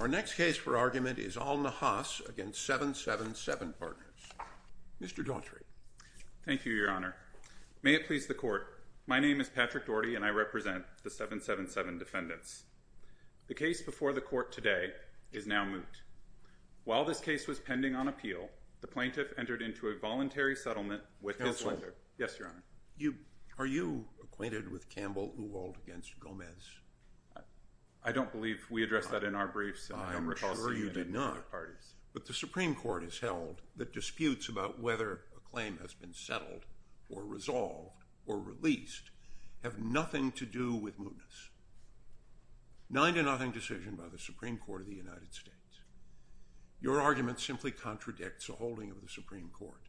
Our next case for argument is Al-Nahhas v. 777 Partners. Mr. Daughtry. Thank you, Your Honor. May it please the Court, my name is Patrick Daugherty and I represent the 777 defendants. The case before the Court today is now moot. While this case was pending on appeal, the plaintiff entered into a voluntary settlement with his lender. Yes, Your Honor. Are you acquainted with Campbell Uwald v. Gomez? I don't believe we addressed that in our briefs. I am sure you did not. But the Supreme Court has held that disputes about whether a claim has been settled or resolved or released have nothing to do with mootness. Nine to nothing decision by the Supreme Court of the United States. Your argument simply contradicts the holding of the Supreme Court.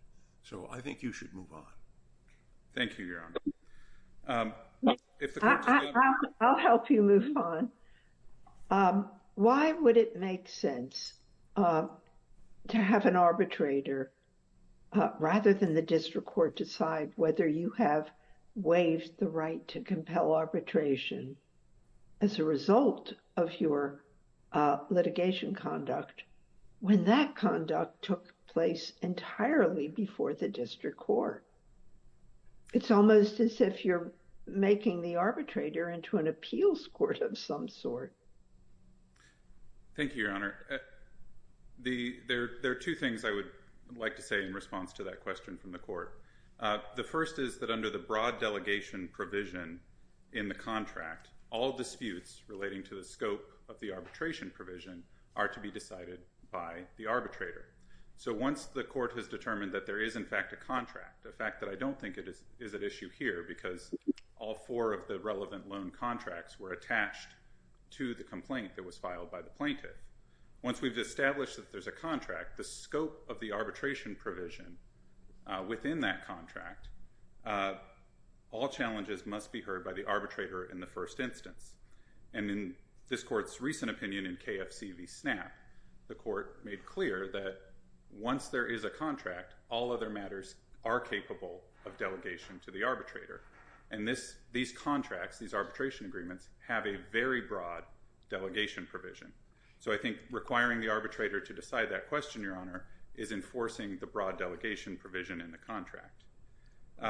So I think you should move on. Thank you, Your Honor. I'll help you move on. Why would it make sense to have an arbitrator, rather than the district court, decide whether you have waived the right to compel arbitration as a result of your litigation conduct when that conduct took place entirely before the district court? It's almost as if you're making the arbitrator into an appeals court of some sort. Thank you, Your Honor. There are two things I would like to say in response to that question from the court. The first is that under the broad delegation provision in the contract, all disputes relating to the scope of the arbitration provision are to be decided by the arbitrator. So once the court has determined that there is, in fact, a contract, a fact that I don't think it is an issue here because all four of the relevant loan contracts were attached to the complaint that was filed by the plaintiff. Once we've established that there's a contract, the scope of the arbitration provision within that contract, all challenges must be heard by the arbitrator in the first instance. And in this court's recent opinion in KFC v. SNAP, the court made clear that once there is a contract, all other matters are capable of delegation to the arbitrator. And these contracts, these arbitration agreements, have a very broad delegation provision. So I think requiring the arbitrator to decide that question, Your Honor, is enforcing the broad delegation provision in the contract.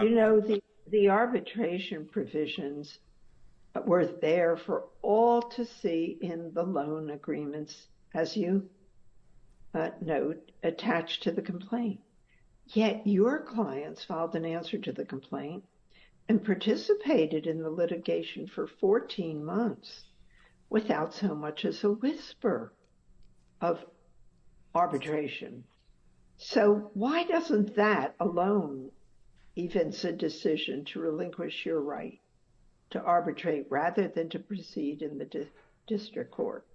You know, the arbitration provisions were there for all to see in the loan agreements, as you note, attached to the complaint. Yet your clients filed an answer to the complaint and participated in the litigation for 14 months without so much as a whisper of arbitration. So why doesn't that alone evince a decision to relinquish your right to arbitrate rather than to proceed in the district court?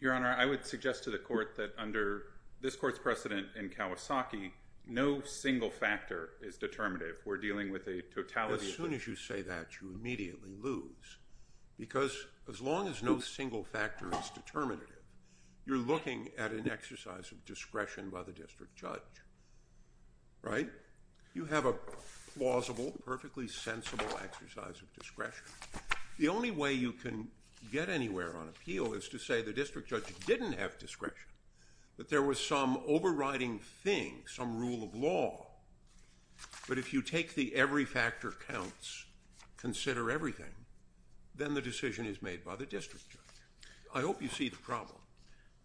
Your Honor, I would suggest to the court that under this court's precedent in Kawasaki, no single factor is determinative. We're dealing with a totality of the court. As soon as you say that, you immediately lose. Because as long as no single factor is determinative, you're looking at an exercise of discretion by the district judge, right? You have a plausible, perfectly sensible exercise of discretion. The only way you can get anywhere on appeal is to say the district judge didn't have discretion, that there was some overriding thing, some rule of law. But if you take the every factor counts, consider everything, then the decision is made by the district judge. I hope you see the problem.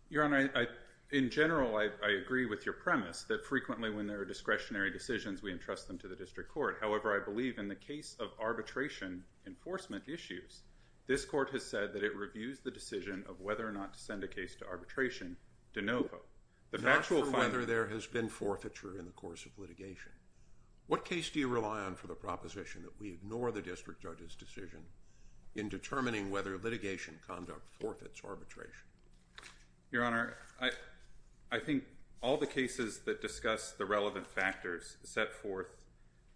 Your Honor, in general, I agree with your premise that frequently when there are discretionary decisions, we entrust them to the district court. However, I believe in the case of arbitration enforcement issues, this court has said that it reviews the decision of whether or not to send a case to arbitration de novo. The factual finding. Not for whether there has been forfeiture in the course of litigation. What case do you rely on for the proposition that we ignore the district judge's decision in determining whether litigation conduct forfeits arbitration? Your Honor, I think all the cases that discuss the relevant factors set forth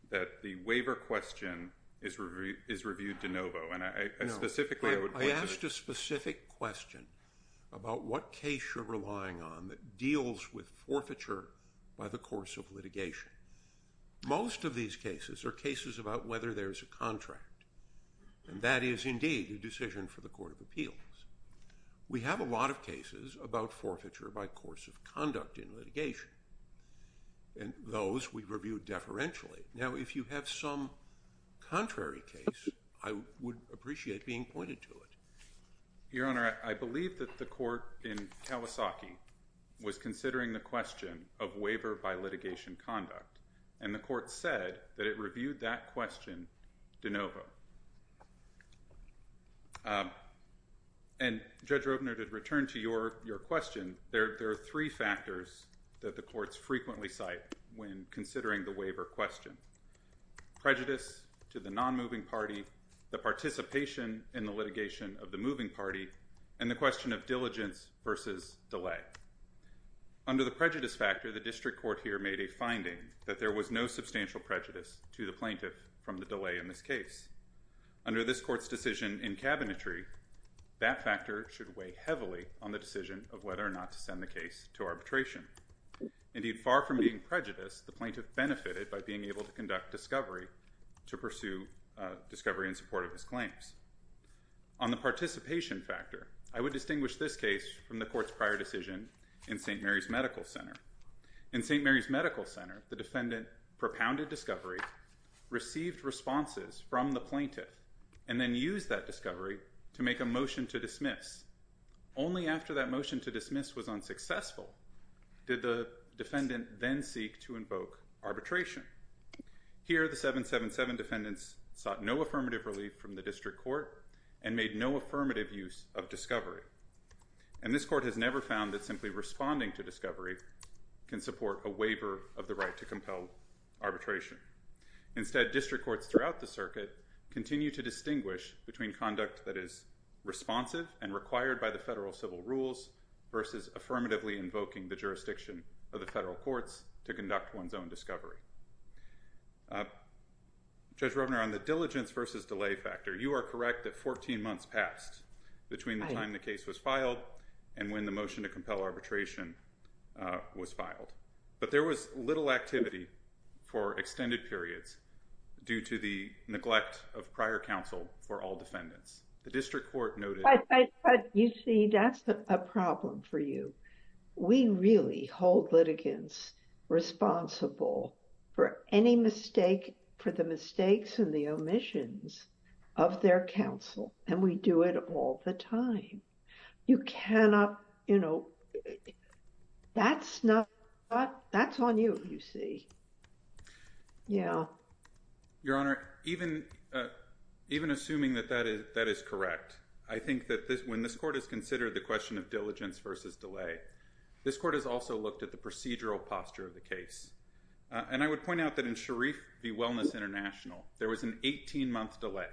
that the waiver question is reviewed de novo. And I specifically would point to that. I asked a specific question about what case you're relying on that deals with forfeiture by the course of litigation. Most of these cases are cases about whether there is a contract. And that is, indeed, a decision for the Court of Appeals. We have a lot of cases about forfeiture by course of conduct in litigation. And those, we review deferentially. Now, if you have some contrary case, I would appreciate being pointed to it. Your Honor, I believe that the court in Kawasaki was considering the question of waiver by litigation conduct. And the court said that it reviewed that question de novo. And Judge Robner, to return to your question, there are three factors that the courts frequently cite when considering the waiver question. Prejudice to the non-moving party, the participation in the litigation of the moving party, and the question of diligence versus delay. Under the prejudice factor, the district court here made a finding that there was no substantial prejudice to the plaintiff from the delay in this case. Under this court's decision in cabinetry, that factor should weigh heavily on the decision of whether or not to send the case to arbitration. Indeed, far from being prejudiced, the plaintiff benefited by being able to conduct discovery to pursue discovery in support of his claims. On the participation factor, I would distinguish this case from the court's prior decision in St. Mary's Medical Center. In St. Mary's Medical Center, the defendant propounded discovery, received responses from the plaintiff, and then used that discovery to make a motion to dismiss. Only after that motion to dismiss was unsuccessful did the defendant then seek to invoke arbitration. Here, the 777 defendants sought no affirmative relief from the district court and made no affirmative use of discovery. And this court has never found that simply responding to discovery can support a waiver of the right to compel arbitration. Instead, district courts throughout the circuit continue to distinguish between conduct that is responsive and required by the federal civil rules versus affirmatively invoking the jurisdiction of the federal courts to conduct one's own discovery. Judge Rovner, on the diligence versus delay factor, you are correct that 14 months passed between the time the case was filed and when the motion to compel arbitration was filed. But there was little activity for extended periods due to the neglect of prior counsel for all defendants. The district court noted. You see, that's a problem for you. We really hold litigants responsible for any mistake, for the mistakes and the omissions of their counsel. And we do it all the time. You cannot, you know, that's not, that's on you, you see. Yeah. Your Honor, even assuming that that is correct, I think that when this court has considered the question of diligence versus delay, this court has also looked at the procedural posture of the case. And I would point out that in Sharif v. Wellness International, there was an 18 month delay.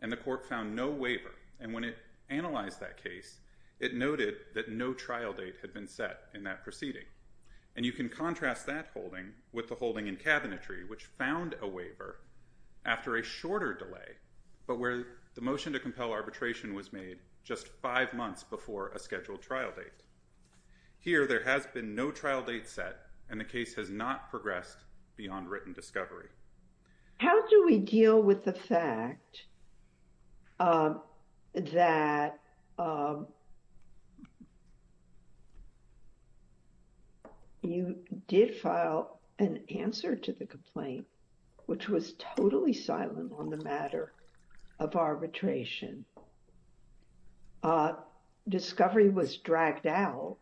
And the court found no waiver. And when it analyzed that case, it noted that no trial date had been set in that proceeding. And you can contrast that holding with the holding in cabinetry, which found a waiver after a shorter delay, but where the motion to compel arbitration was made just five months before a scheduled trial date. Here, there has been no trial date set. And the case has not progressed beyond written discovery. How do we deal with the fact that you did file an answer to the complaint, which was totally silent on the matter of arbitration? Discovery was dragged out.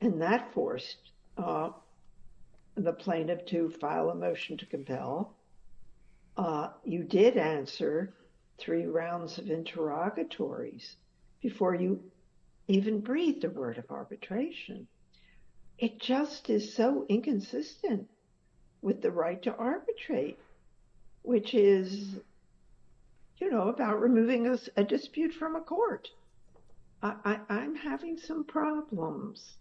And that forced the plaintiff to file a motion to compel. You did answer three rounds of interrogatories before you even breathed a word of arbitration. It just is so inconsistent with the right to arbitrate, which is about removing a dispute from a court. I'm having some problems.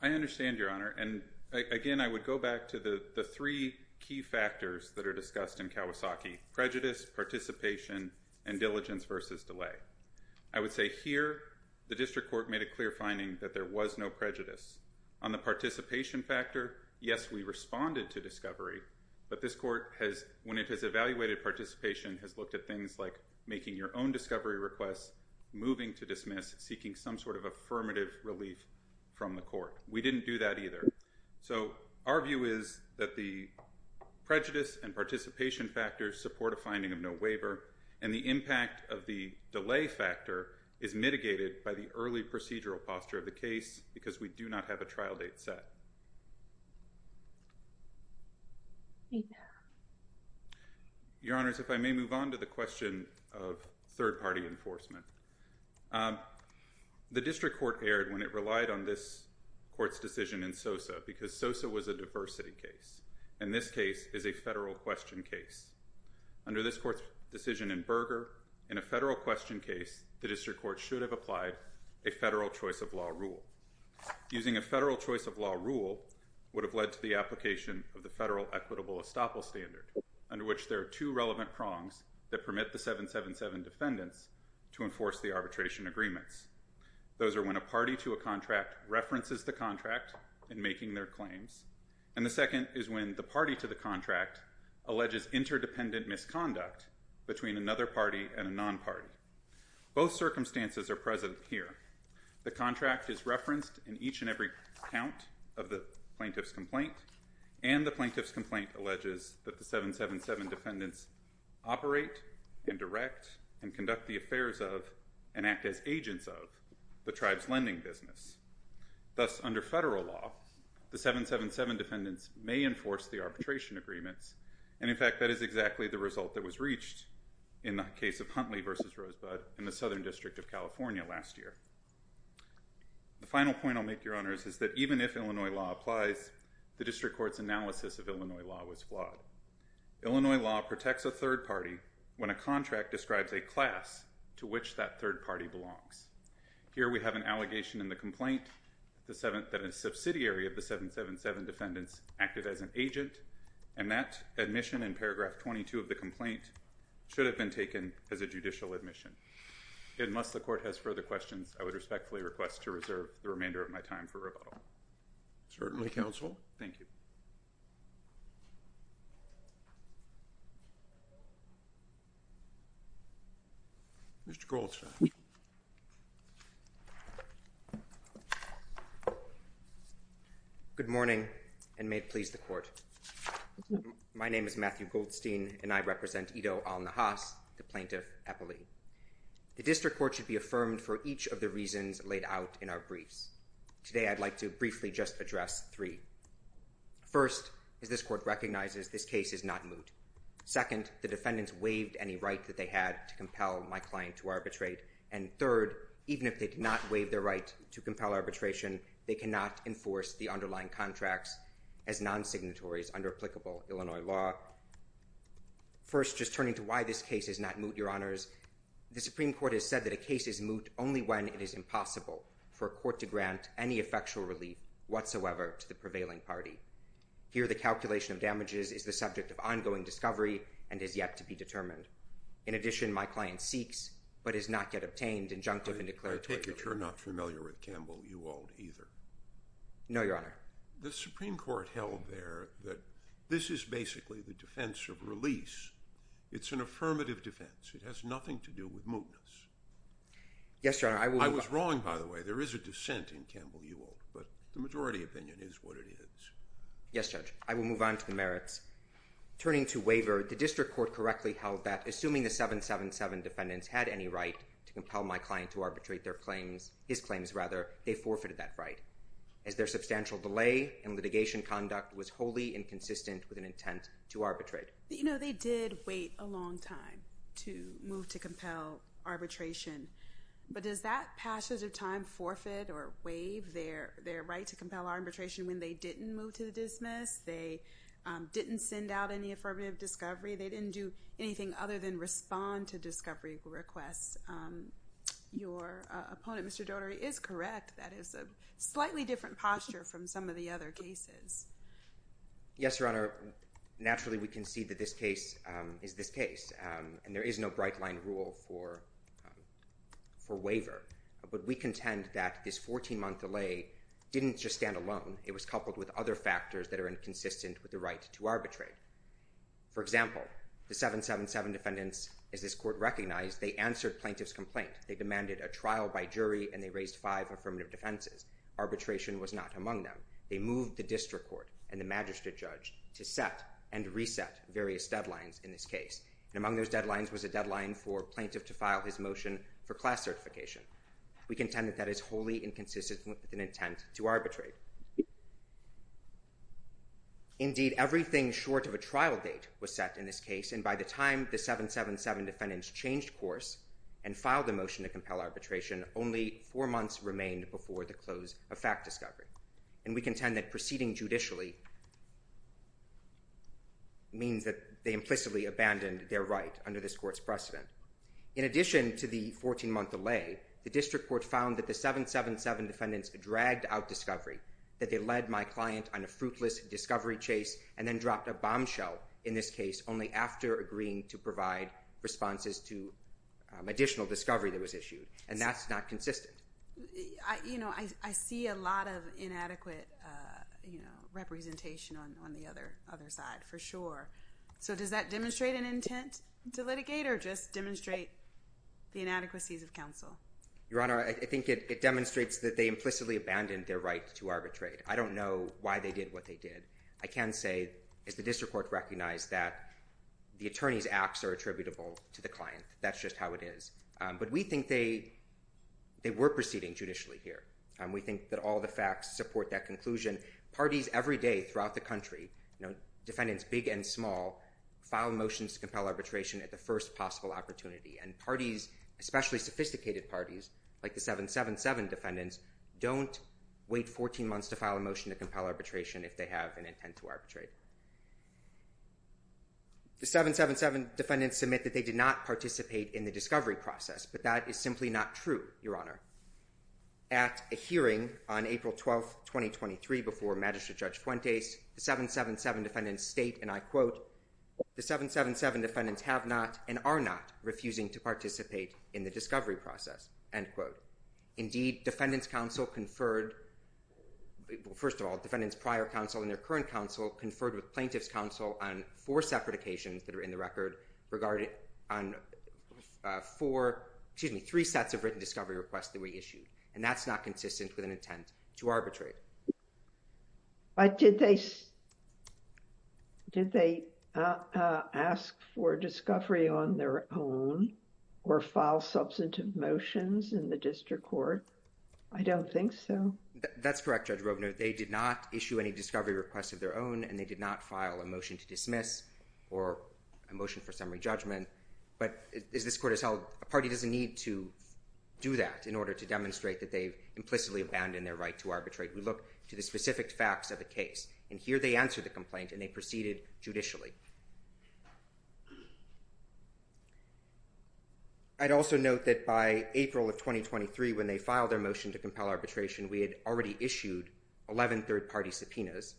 I understand, Your Honor. And again, I would go back to the three key factors that are discussed in Kawasaki, prejudice, participation, and diligence versus delay. I would say here, the district court made a clear finding that there was no prejudice. On the participation factor, yes, we responded to discovery. But this court, when it has evaluated participation, has looked at things like making your own discovery requests, moving to dismiss, seeking some sort of affirmative relief from the court. We didn't do that either. So our view is that the prejudice and participation factors support a finding of no waiver. And the impact of the delay factor is mitigated by the early procedural posture of the case, because we do not have a trial date set. Your Honors, if I may move on to the question of third party enforcement. The district court erred when it relied on this court's decision in Sosa, because Sosa was a diversity case. And this case is a federal question case. Under this court's decision in Berger, in a federal question case, the district court should have applied a federal choice of law rule. Using a federal choice of law rule would have led to the application of the federal equitable estoppel standard, under which there are two relevant prongs that permit the 777 defendants to enforce the arbitration agreements. Those are when a party to a contract references the contract in making their claims. And the second is when the party to the contract alleges interdependent misconduct between another party and a non-party. Both circumstances are present here. The contract is referenced in each and every count of the plaintiff's complaint. that the 777 defendants operate and direct and conduct the affairs of, and act as agents of, the tribe's lending business. Thus, under federal law, the 777 defendants may enforce the arbitration agreements. And in fact, that is exactly the result that was reached in the case of Huntley v. Rosebud in the Southern District of California last year. The final point I'll make, Your Honors, is that even if Illinois law applies, the district court's analysis of Illinois law was flawed. Illinois law protects a third party when a contract describes a class to which that third party belongs. Here we have an allegation in the complaint that a subsidiary of the 777 defendants acted as an agent. And that admission in paragraph 22 of the complaint should have been taken as a judicial admission. And unless the court has further questions, I would respectfully request to reserve the remainder of my time for rebuttal. Certainly, counsel. Thank you. Mr. Goldstein. Good morning, and may it please the court. My name is Matthew Goldstein, and I represent Ido Al-Nahas, the plaintiff, Eppley. The district court should be affirmed for each of the reasons laid out in our briefs. Today, I'd like to briefly just address three. First, as this court recognizes, this case is not moot. Second, the defendants' waiver of the 777 waived any right that they had to compel my client to arbitrate. And third, even if they did not waive their right to compel arbitration, they cannot enforce the underlying contracts as non-signatories under applicable Illinois law. First, just turning to why this case is not moot, your honors, the Supreme Court has said that a case is moot only when it is impossible for a court to grant any effectual relief whatsoever to the prevailing party. Here, the calculation of damages is the subject of ongoing discovery and is yet to be determined. In addition, my client seeks, but has not yet obtained, injunctive and declarative. I take it you're not familiar with Campbell-Uwald either? No, your honor. The Supreme Court held there that this is basically the defense of release. It's an affirmative defense. It has nothing to do with mootness. Yes, your honor, I will move on. I was wrong, by the way. There is a dissent in Campbell-Uwald, but the majority opinion is what it is. Yes, judge. I will move on to the merits. Turning to waiver, the district court correctly held that assuming the 777 defendants had any right to compel my client to arbitrate his claims, they forfeited that right, as their substantial delay in litigation conduct was wholly inconsistent with an intent to arbitrate. You know, they did wait a long time to move to compel arbitration, but does that passage of time forfeit or waive their right to compel arbitration when they didn't move to the dismiss? They didn't send out any affirmative discovery. They didn't do anything other than respond to discovery requests. Your opponent, Mr. Daugherty, is correct. That is a slightly different posture from some of the other cases. Yes, your honor. Naturally, we concede that this case is this case, and there is no bright-line rule for waiver, but we contend that this 14-month delay didn't just stand alone. It was coupled with other factors that are inconsistent with the right to arbitrate. For example, the 777 defendants, as this court recognized, they answered plaintiff's complaint. They demanded a trial by jury, and they raised five affirmative defenses. Arbitration was not among them. They moved the district court and the magistrate judge to set and reset various deadlines in this case, and among those deadlines was a deadline for plaintiff to file his motion for class certification. We contend that that is wholly inconsistent with an intent to arbitrate. Indeed, everything short of a trial date was set in this case, and by the time the 777 defendants changed course and filed a motion to compel arbitration, only four months remained before the close of fact discovery, and we contend that proceeding judicially means that they implicitly abandoned their right under this court's precedent. In addition to the 14-month delay, the district court found that the 777 defendants dragged out discovery that they led my client on a fruitless discovery chase and then dropped a bombshell in this case only after agreeing to provide responses to additional discovery that was issued, and that's not consistent. I see a lot of inadequate representation on the other side, for sure. So does that demonstrate an intent to litigate or just demonstrate the inadequacies of counsel? Your Honor, I think it demonstrates that they implicitly abandoned their right to arbitrate. I don't know why they did what they did. I can say, as the district court recognized, that the attorney's acts are attributable to the client. That's just how it is. But we think they were proceeding judicially here. We think that all the facts support that conclusion. Parties every day throughout the country, defendants big and small, file motions to compel arbitration at the first possible opportunity, and parties, especially sophisticated parties, like the 777 defendants, don't wait 14 months to file a motion to compel arbitration if they have an intent to arbitrate. The 777 defendants submit that they did not participate in the discovery process, but that is simply not true, Your Honor. At a hearing on April 12th, 2023, before Magistrate Judge Fuentes, the 777 defendants state, and I quote, the 777 defendants have not and are not refusing to participate in the discovery process, end quote. Indeed, defendants' counsel conferred, first of all, defendants' prior counsel and their current counsel conferred with plaintiffs' counsel on four separate occasions that are in the record regarding on four, excuse me, three sets of written discovery requests that we issued. And that's not consistent with an intent to arbitrate. But did they, did they ask for discovery on their own or file substantive motions in the district court? I don't think so. That's correct, Judge Roebner. They did not issue any discovery requests of their own and they did not file a motion to dismiss or a motion for summary judgment. But as this court has held, a party doesn't need to do that in order to demonstrate that they've implicitly abandoned their right to arbitrate. We look to the specific facts of the case. And here they answer the complaint and they proceeded judicially. I'd also note that by April of 2023, when they filed their motion to compel arbitration, we had already issued 11 third party subpoenas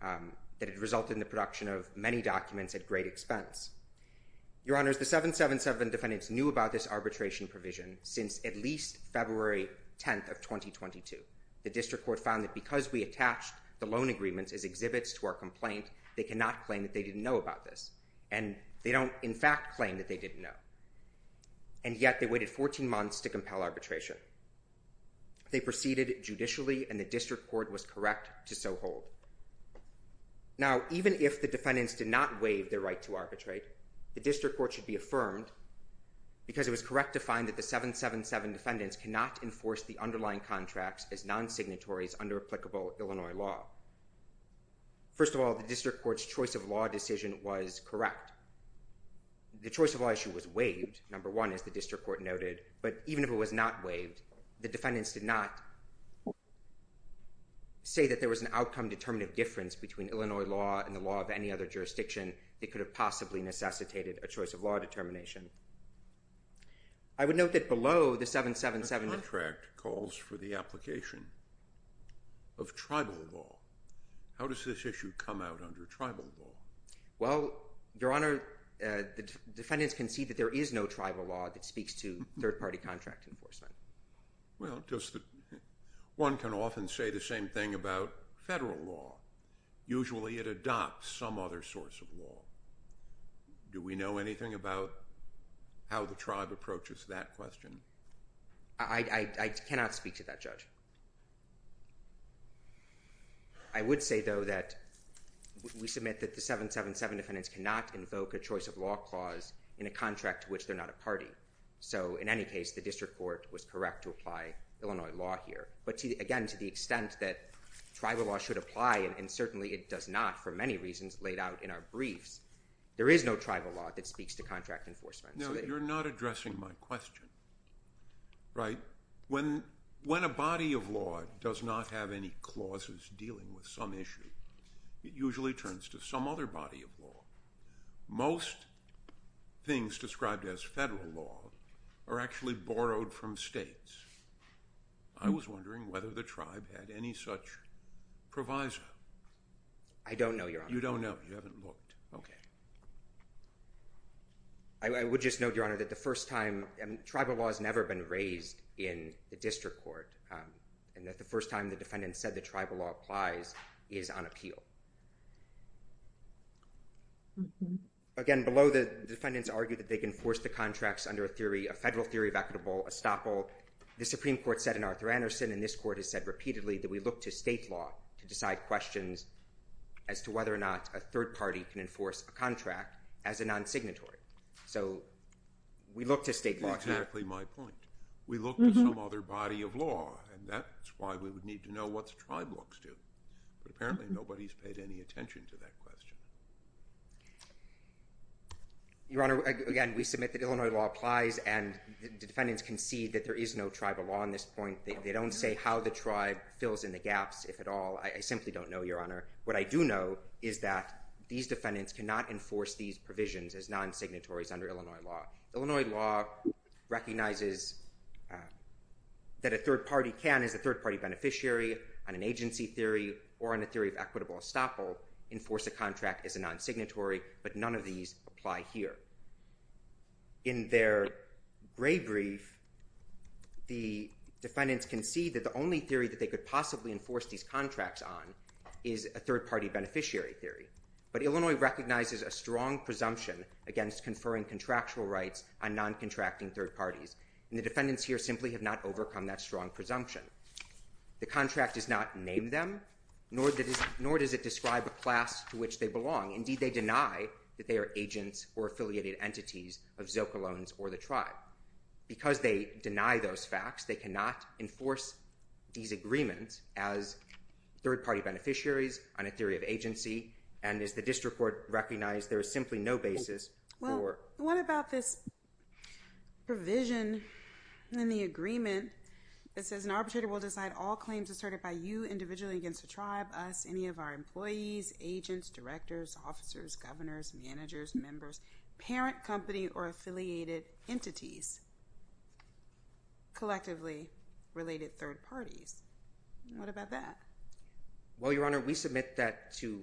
that had resulted in the production of many documents at great expense. Your honors, the 777 defendants knew about this arbitration provision since at least February 10th of 2022. The district court found that because we attached the loan agreements as exhibits to our complaint, they cannot claim that they didn't know about this. And they don't in fact claim that they didn't know. And yet they waited 14 months to compel arbitration. They proceeded judicially and the district court was correct to so hold. Now, even if the defendants did not waive their right to arbitrate, the district court should be affirmed because it was correct to find that the 777 defendants cannot enforce the underlying contracts as non-signatories under applicable Illinois law. First of all, the district court's choice of law decision was correct. The choice of law issue was waived, number one, as the district court noted, but even if it was not waived, the defendants did not say that there was an outcome determinative difference between Illinois law and the law of any other jurisdiction that could have possibly necessitated a choice of law determination. I would note that below the 777- The contract calls for the application of tribal law. How does this issue come out under tribal law? Well, Your Honor, the defendants can see that there is no tribal law that speaks to third-party contract enforcement. Well, one can often say the same thing about federal law. Usually it adopts some other source of law. Do we know anything about how the tribe approaches that question? I cannot speak to that, Judge. I would say, though, that we submit that the 777 defendants cannot invoke a choice of law clause in a contract to which they're not a party. So in any case, the district court was correct to apply Illinois law here. But again, to the extent that tribal law should apply, and certainly it does not for many reasons laid out in our briefs, there is no tribal law that speaks to contract enforcement. No, you're not addressing my question, right? When a body of law does not have any clauses dealing with some issue, it usually turns to some other body of law. Most things described as federal law are actually borrowed from states. I was wondering whether the tribe had any such proviso. I don't know, Your Honor. You don't know, you haven't looked. Okay. I would just note, Your Honor, that the first time, tribal law has never been raised in the district court, and that the first time the defendant said that tribal law applies is on appeal. Again, below, the defendants argue that they can force the contracts under a theory, a federal theory of equitable estoppel. The Supreme Court said in Arthur Anderson, and this court has said repeatedly that we look to state law to decide questions as to whether or not a third party can enforce a contract as a non-signatory. So we look to state law. Exactly my point. We look to some other body of law, and that's why we would need to know what the tribe looks to. But apparently nobody's paid any attention to that question. Your Honor, again, we submit that Illinois law applies, and the defendants concede that there is no tribal law on this point. They don't say how the tribe fills in the gaps, if at all. I simply don't know, Your Honor. What I do know is that these defendants cannot enforce these provisions as non-signatories under Illinois law. Illinois law recognizes that a third party can, as a third-party beneficiary on an agency theory or on a theory of equitable estoppel, enforce a contract as a non-signatory, but none of these apply here. In their gray brief, the defendants concede that the only theory that they could possibly enforce these contracts on is a third-party beneficiary theory. But Illinois recognizes a strong presumption against conferring contractual rights on non-contracting third parties, and the defendants here simply have not overcome that strong presumption. The contract does not name them, nor does it describe a class to which they belong. Indeed, they deny that they are agents or affiliated entities of Zocaloans or the tribe. Because they deny those facts, they cannot enforce these agreements as third-party beneficiaries on a theory of agency, and as the district court recognized, there is simply no basis for... It says an arbitrator will decide all claims asserted by you individually against the tribe, us, any of our employees, agents, directors, officers, governors, managers, members, parent company or affiliated entities, collectively related third parties. What about that? Well, Your Honor, we submit that to...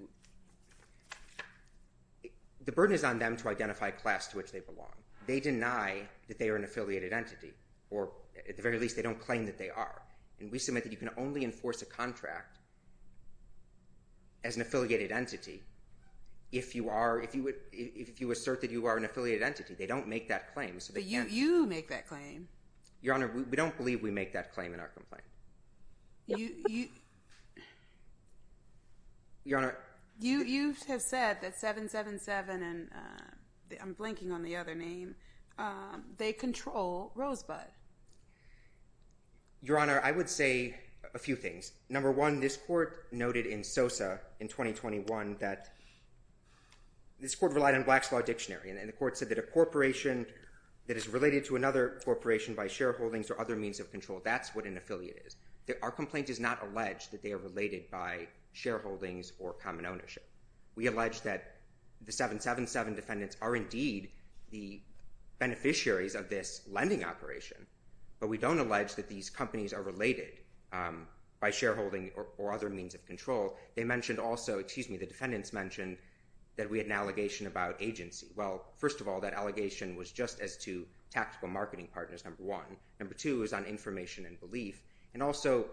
The burden is on them to identify a class to which they belong. They deny that they are an affiliated entity, or at the very least, they don't claim that they are. And we submit that you can only enforce a contract as an affiliated entity if you assert that you are an affiliated entity. They don't make that claim, so they can't... But you make that claim. Your Honor, we don't believe we make that claim in our complaint. Your Honor... You have said that 777 and... I'm blinking on the other name. They control Rosebud. Your Honor, I would say a few things. Number one, this court noted in Sosa in 2021 that... This court relied on Black's Law Dictionary, and the court said that a corporation that is related to another corporation by shareholdings or other means of control, that's what an affiliate is. Our complaint does not allege that they are related by shareholdings or common ownership. We allege that the 777 defendants are indeed the beneficiaries of this lending operation, but we don't allege that these companies are related by shareholding or other means of control. They mentioned also, excuse me, the defendants mentioned that we had an allegation about agency. Well, first of all, that allegation was just as to tactical marketing partners, number one. Number two is on information and belief. And also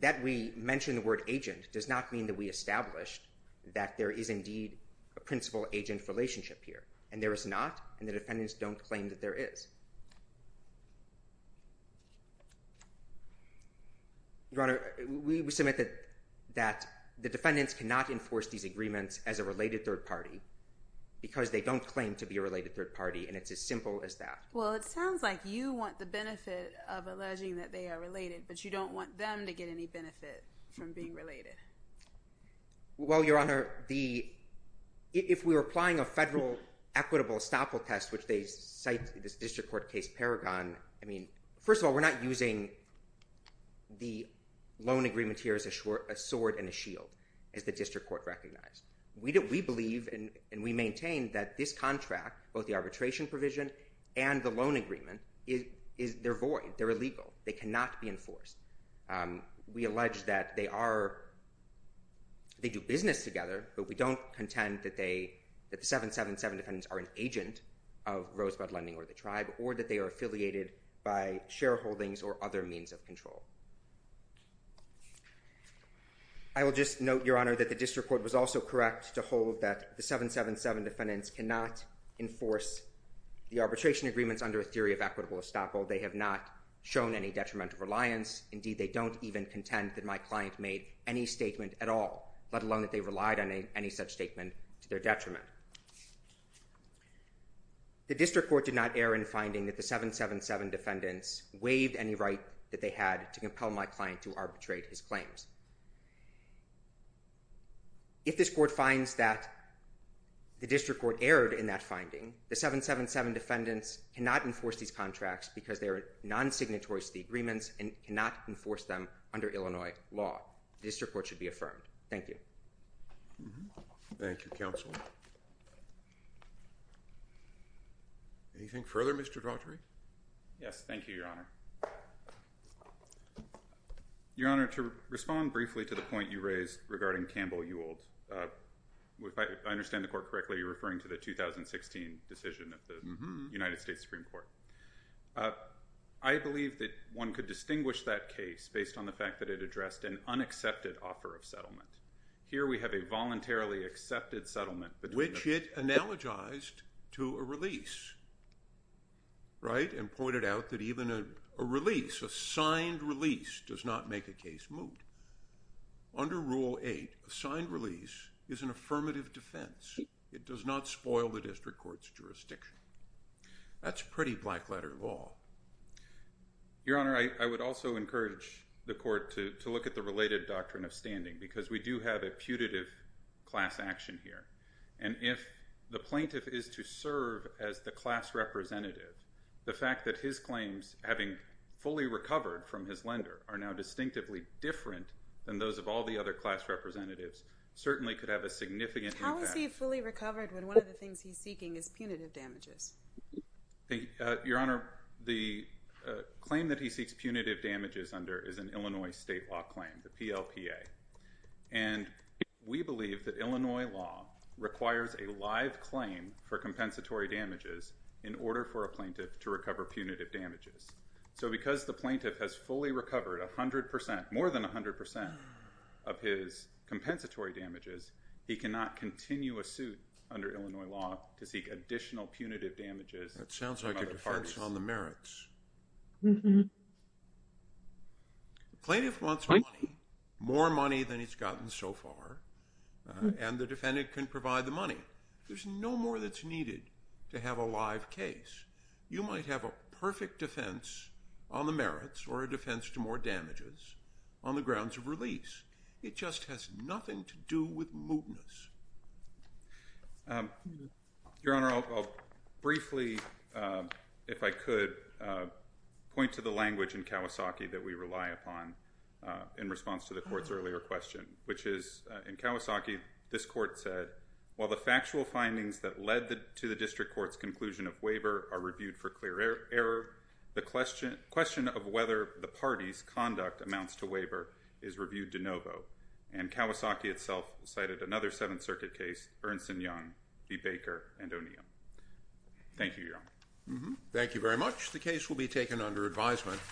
that we mentioned the word agent does not mean that we established that there is indeed a principal agent relationship here, and there is not, and the defendants don't claim that there is. Your Honor, we submit that the defendants cannot enforce these agreements as a related third party because they don't claim to be a related third party, and it's as simple as that. Well, it sounds like you want the benefit of alleging that they are related, but you don't want them to get any benefit from being related. Well, Your Honor, if we were applying a federal equitable estoppel test, which they cite this district court case Paragon, I mean, first of all, we're not using the loan agreement here as a sword and a shield, as the district court recognized. We believe and we maintain that this contract, both the arbitration provision and the loan agreement, is they're void, they're illegal, they cannot be enforced. We allege that they do business together, but we don't contend that the 777 defendants are an agent of Rosebud Lending or the tribe, or that they are affiliated by shareholdings or other means of control. I will just note, Your Honor, that the district court was also correct to hold that the 777 defendants cannot enforce the arbitration agreements under a theory of equitable estoppel. They have not shown any detrimental reliance. Indeed, they don't even contend that my client made any statement at all, let alone that they relied on any such statement to their detriment. The district court did not err in finding that the 777 defendants waived any right that they had to compel my client to arbitrate his claims. If this court finds that the district court erred in that finding, the 777 defendants cannot enforce these contracts because they are non-signatories to the agreements and cannot enforce them under Illinois law. The district court should be affirmed. Thank you. Thank you, counsel. Anything further, Mr. Drottery? Yes, thank you, Your Honor. Your Honor, to respond briefly to the point you raised regarding Campbell Ewald, if I understand the court correctly, you're referring to the 2016 decision of the United States Supreme Court. I believe that one could distinguish that case based on the fact that it addressed an unaccepted offer of settlement. Here we have a voluntarily accepted settlement. Which it analogized to a release, right? And pointed out that even a release, a signed release does not make a case moot. Under Rule 8, a signed release is an affirmative defense. It does not spoil the district court's jurisdiction. That's pretty black letter law. Your Honor, I would also encourage the court to look at the related doctrine of standing because we do have a putative class action here. And if the plaintiff is to serve as the class representative, the fact that his claims, having fully recovered from his lender, are now distinctively different than those of all the other class representatives, certainly could have a significant impact. How is he fully recovered when one of the things he's seeking is punitive damages? Your Honor, the claim that he seeks punitive damages under is an Illinois state law claim, the PLPA. And we believe that Illinois law requires a live claim for compensatory damages in order for a plaintiff to recover punitive damages. So because the plaintiff has fully recovered 100%, more than 100% of his compensatory damages, he cannot continue a suit under Illinois law to seek additional punitive damages from other parties. That sounds like a defense on the merits. The plaintiff wants money, more money than he's gotten so far, and the defendant can provide the money. There's no more that's needed to have a live case. You might have a perfect defense on the merits or a defense to more damages on the grounds of release. It just has nothing to do with mootness. Your Honor, I'll briefly, if I could, point to the language in Kawasaki that we rely upon in response to the court's earlier question, which is in Kawasaki, this court said, while the factual findings that led to the district court's conclusion of waiver are reviewed for clear error, the question of whether the party's conduct amounts to waiver is reviewed de novo. And Kawasaki itself cited another Seventh Circuit case, Ernst and Young v. Baker and O'Neill. Thank you, Your Honor. Thank you very much. The case will be taken under advisement.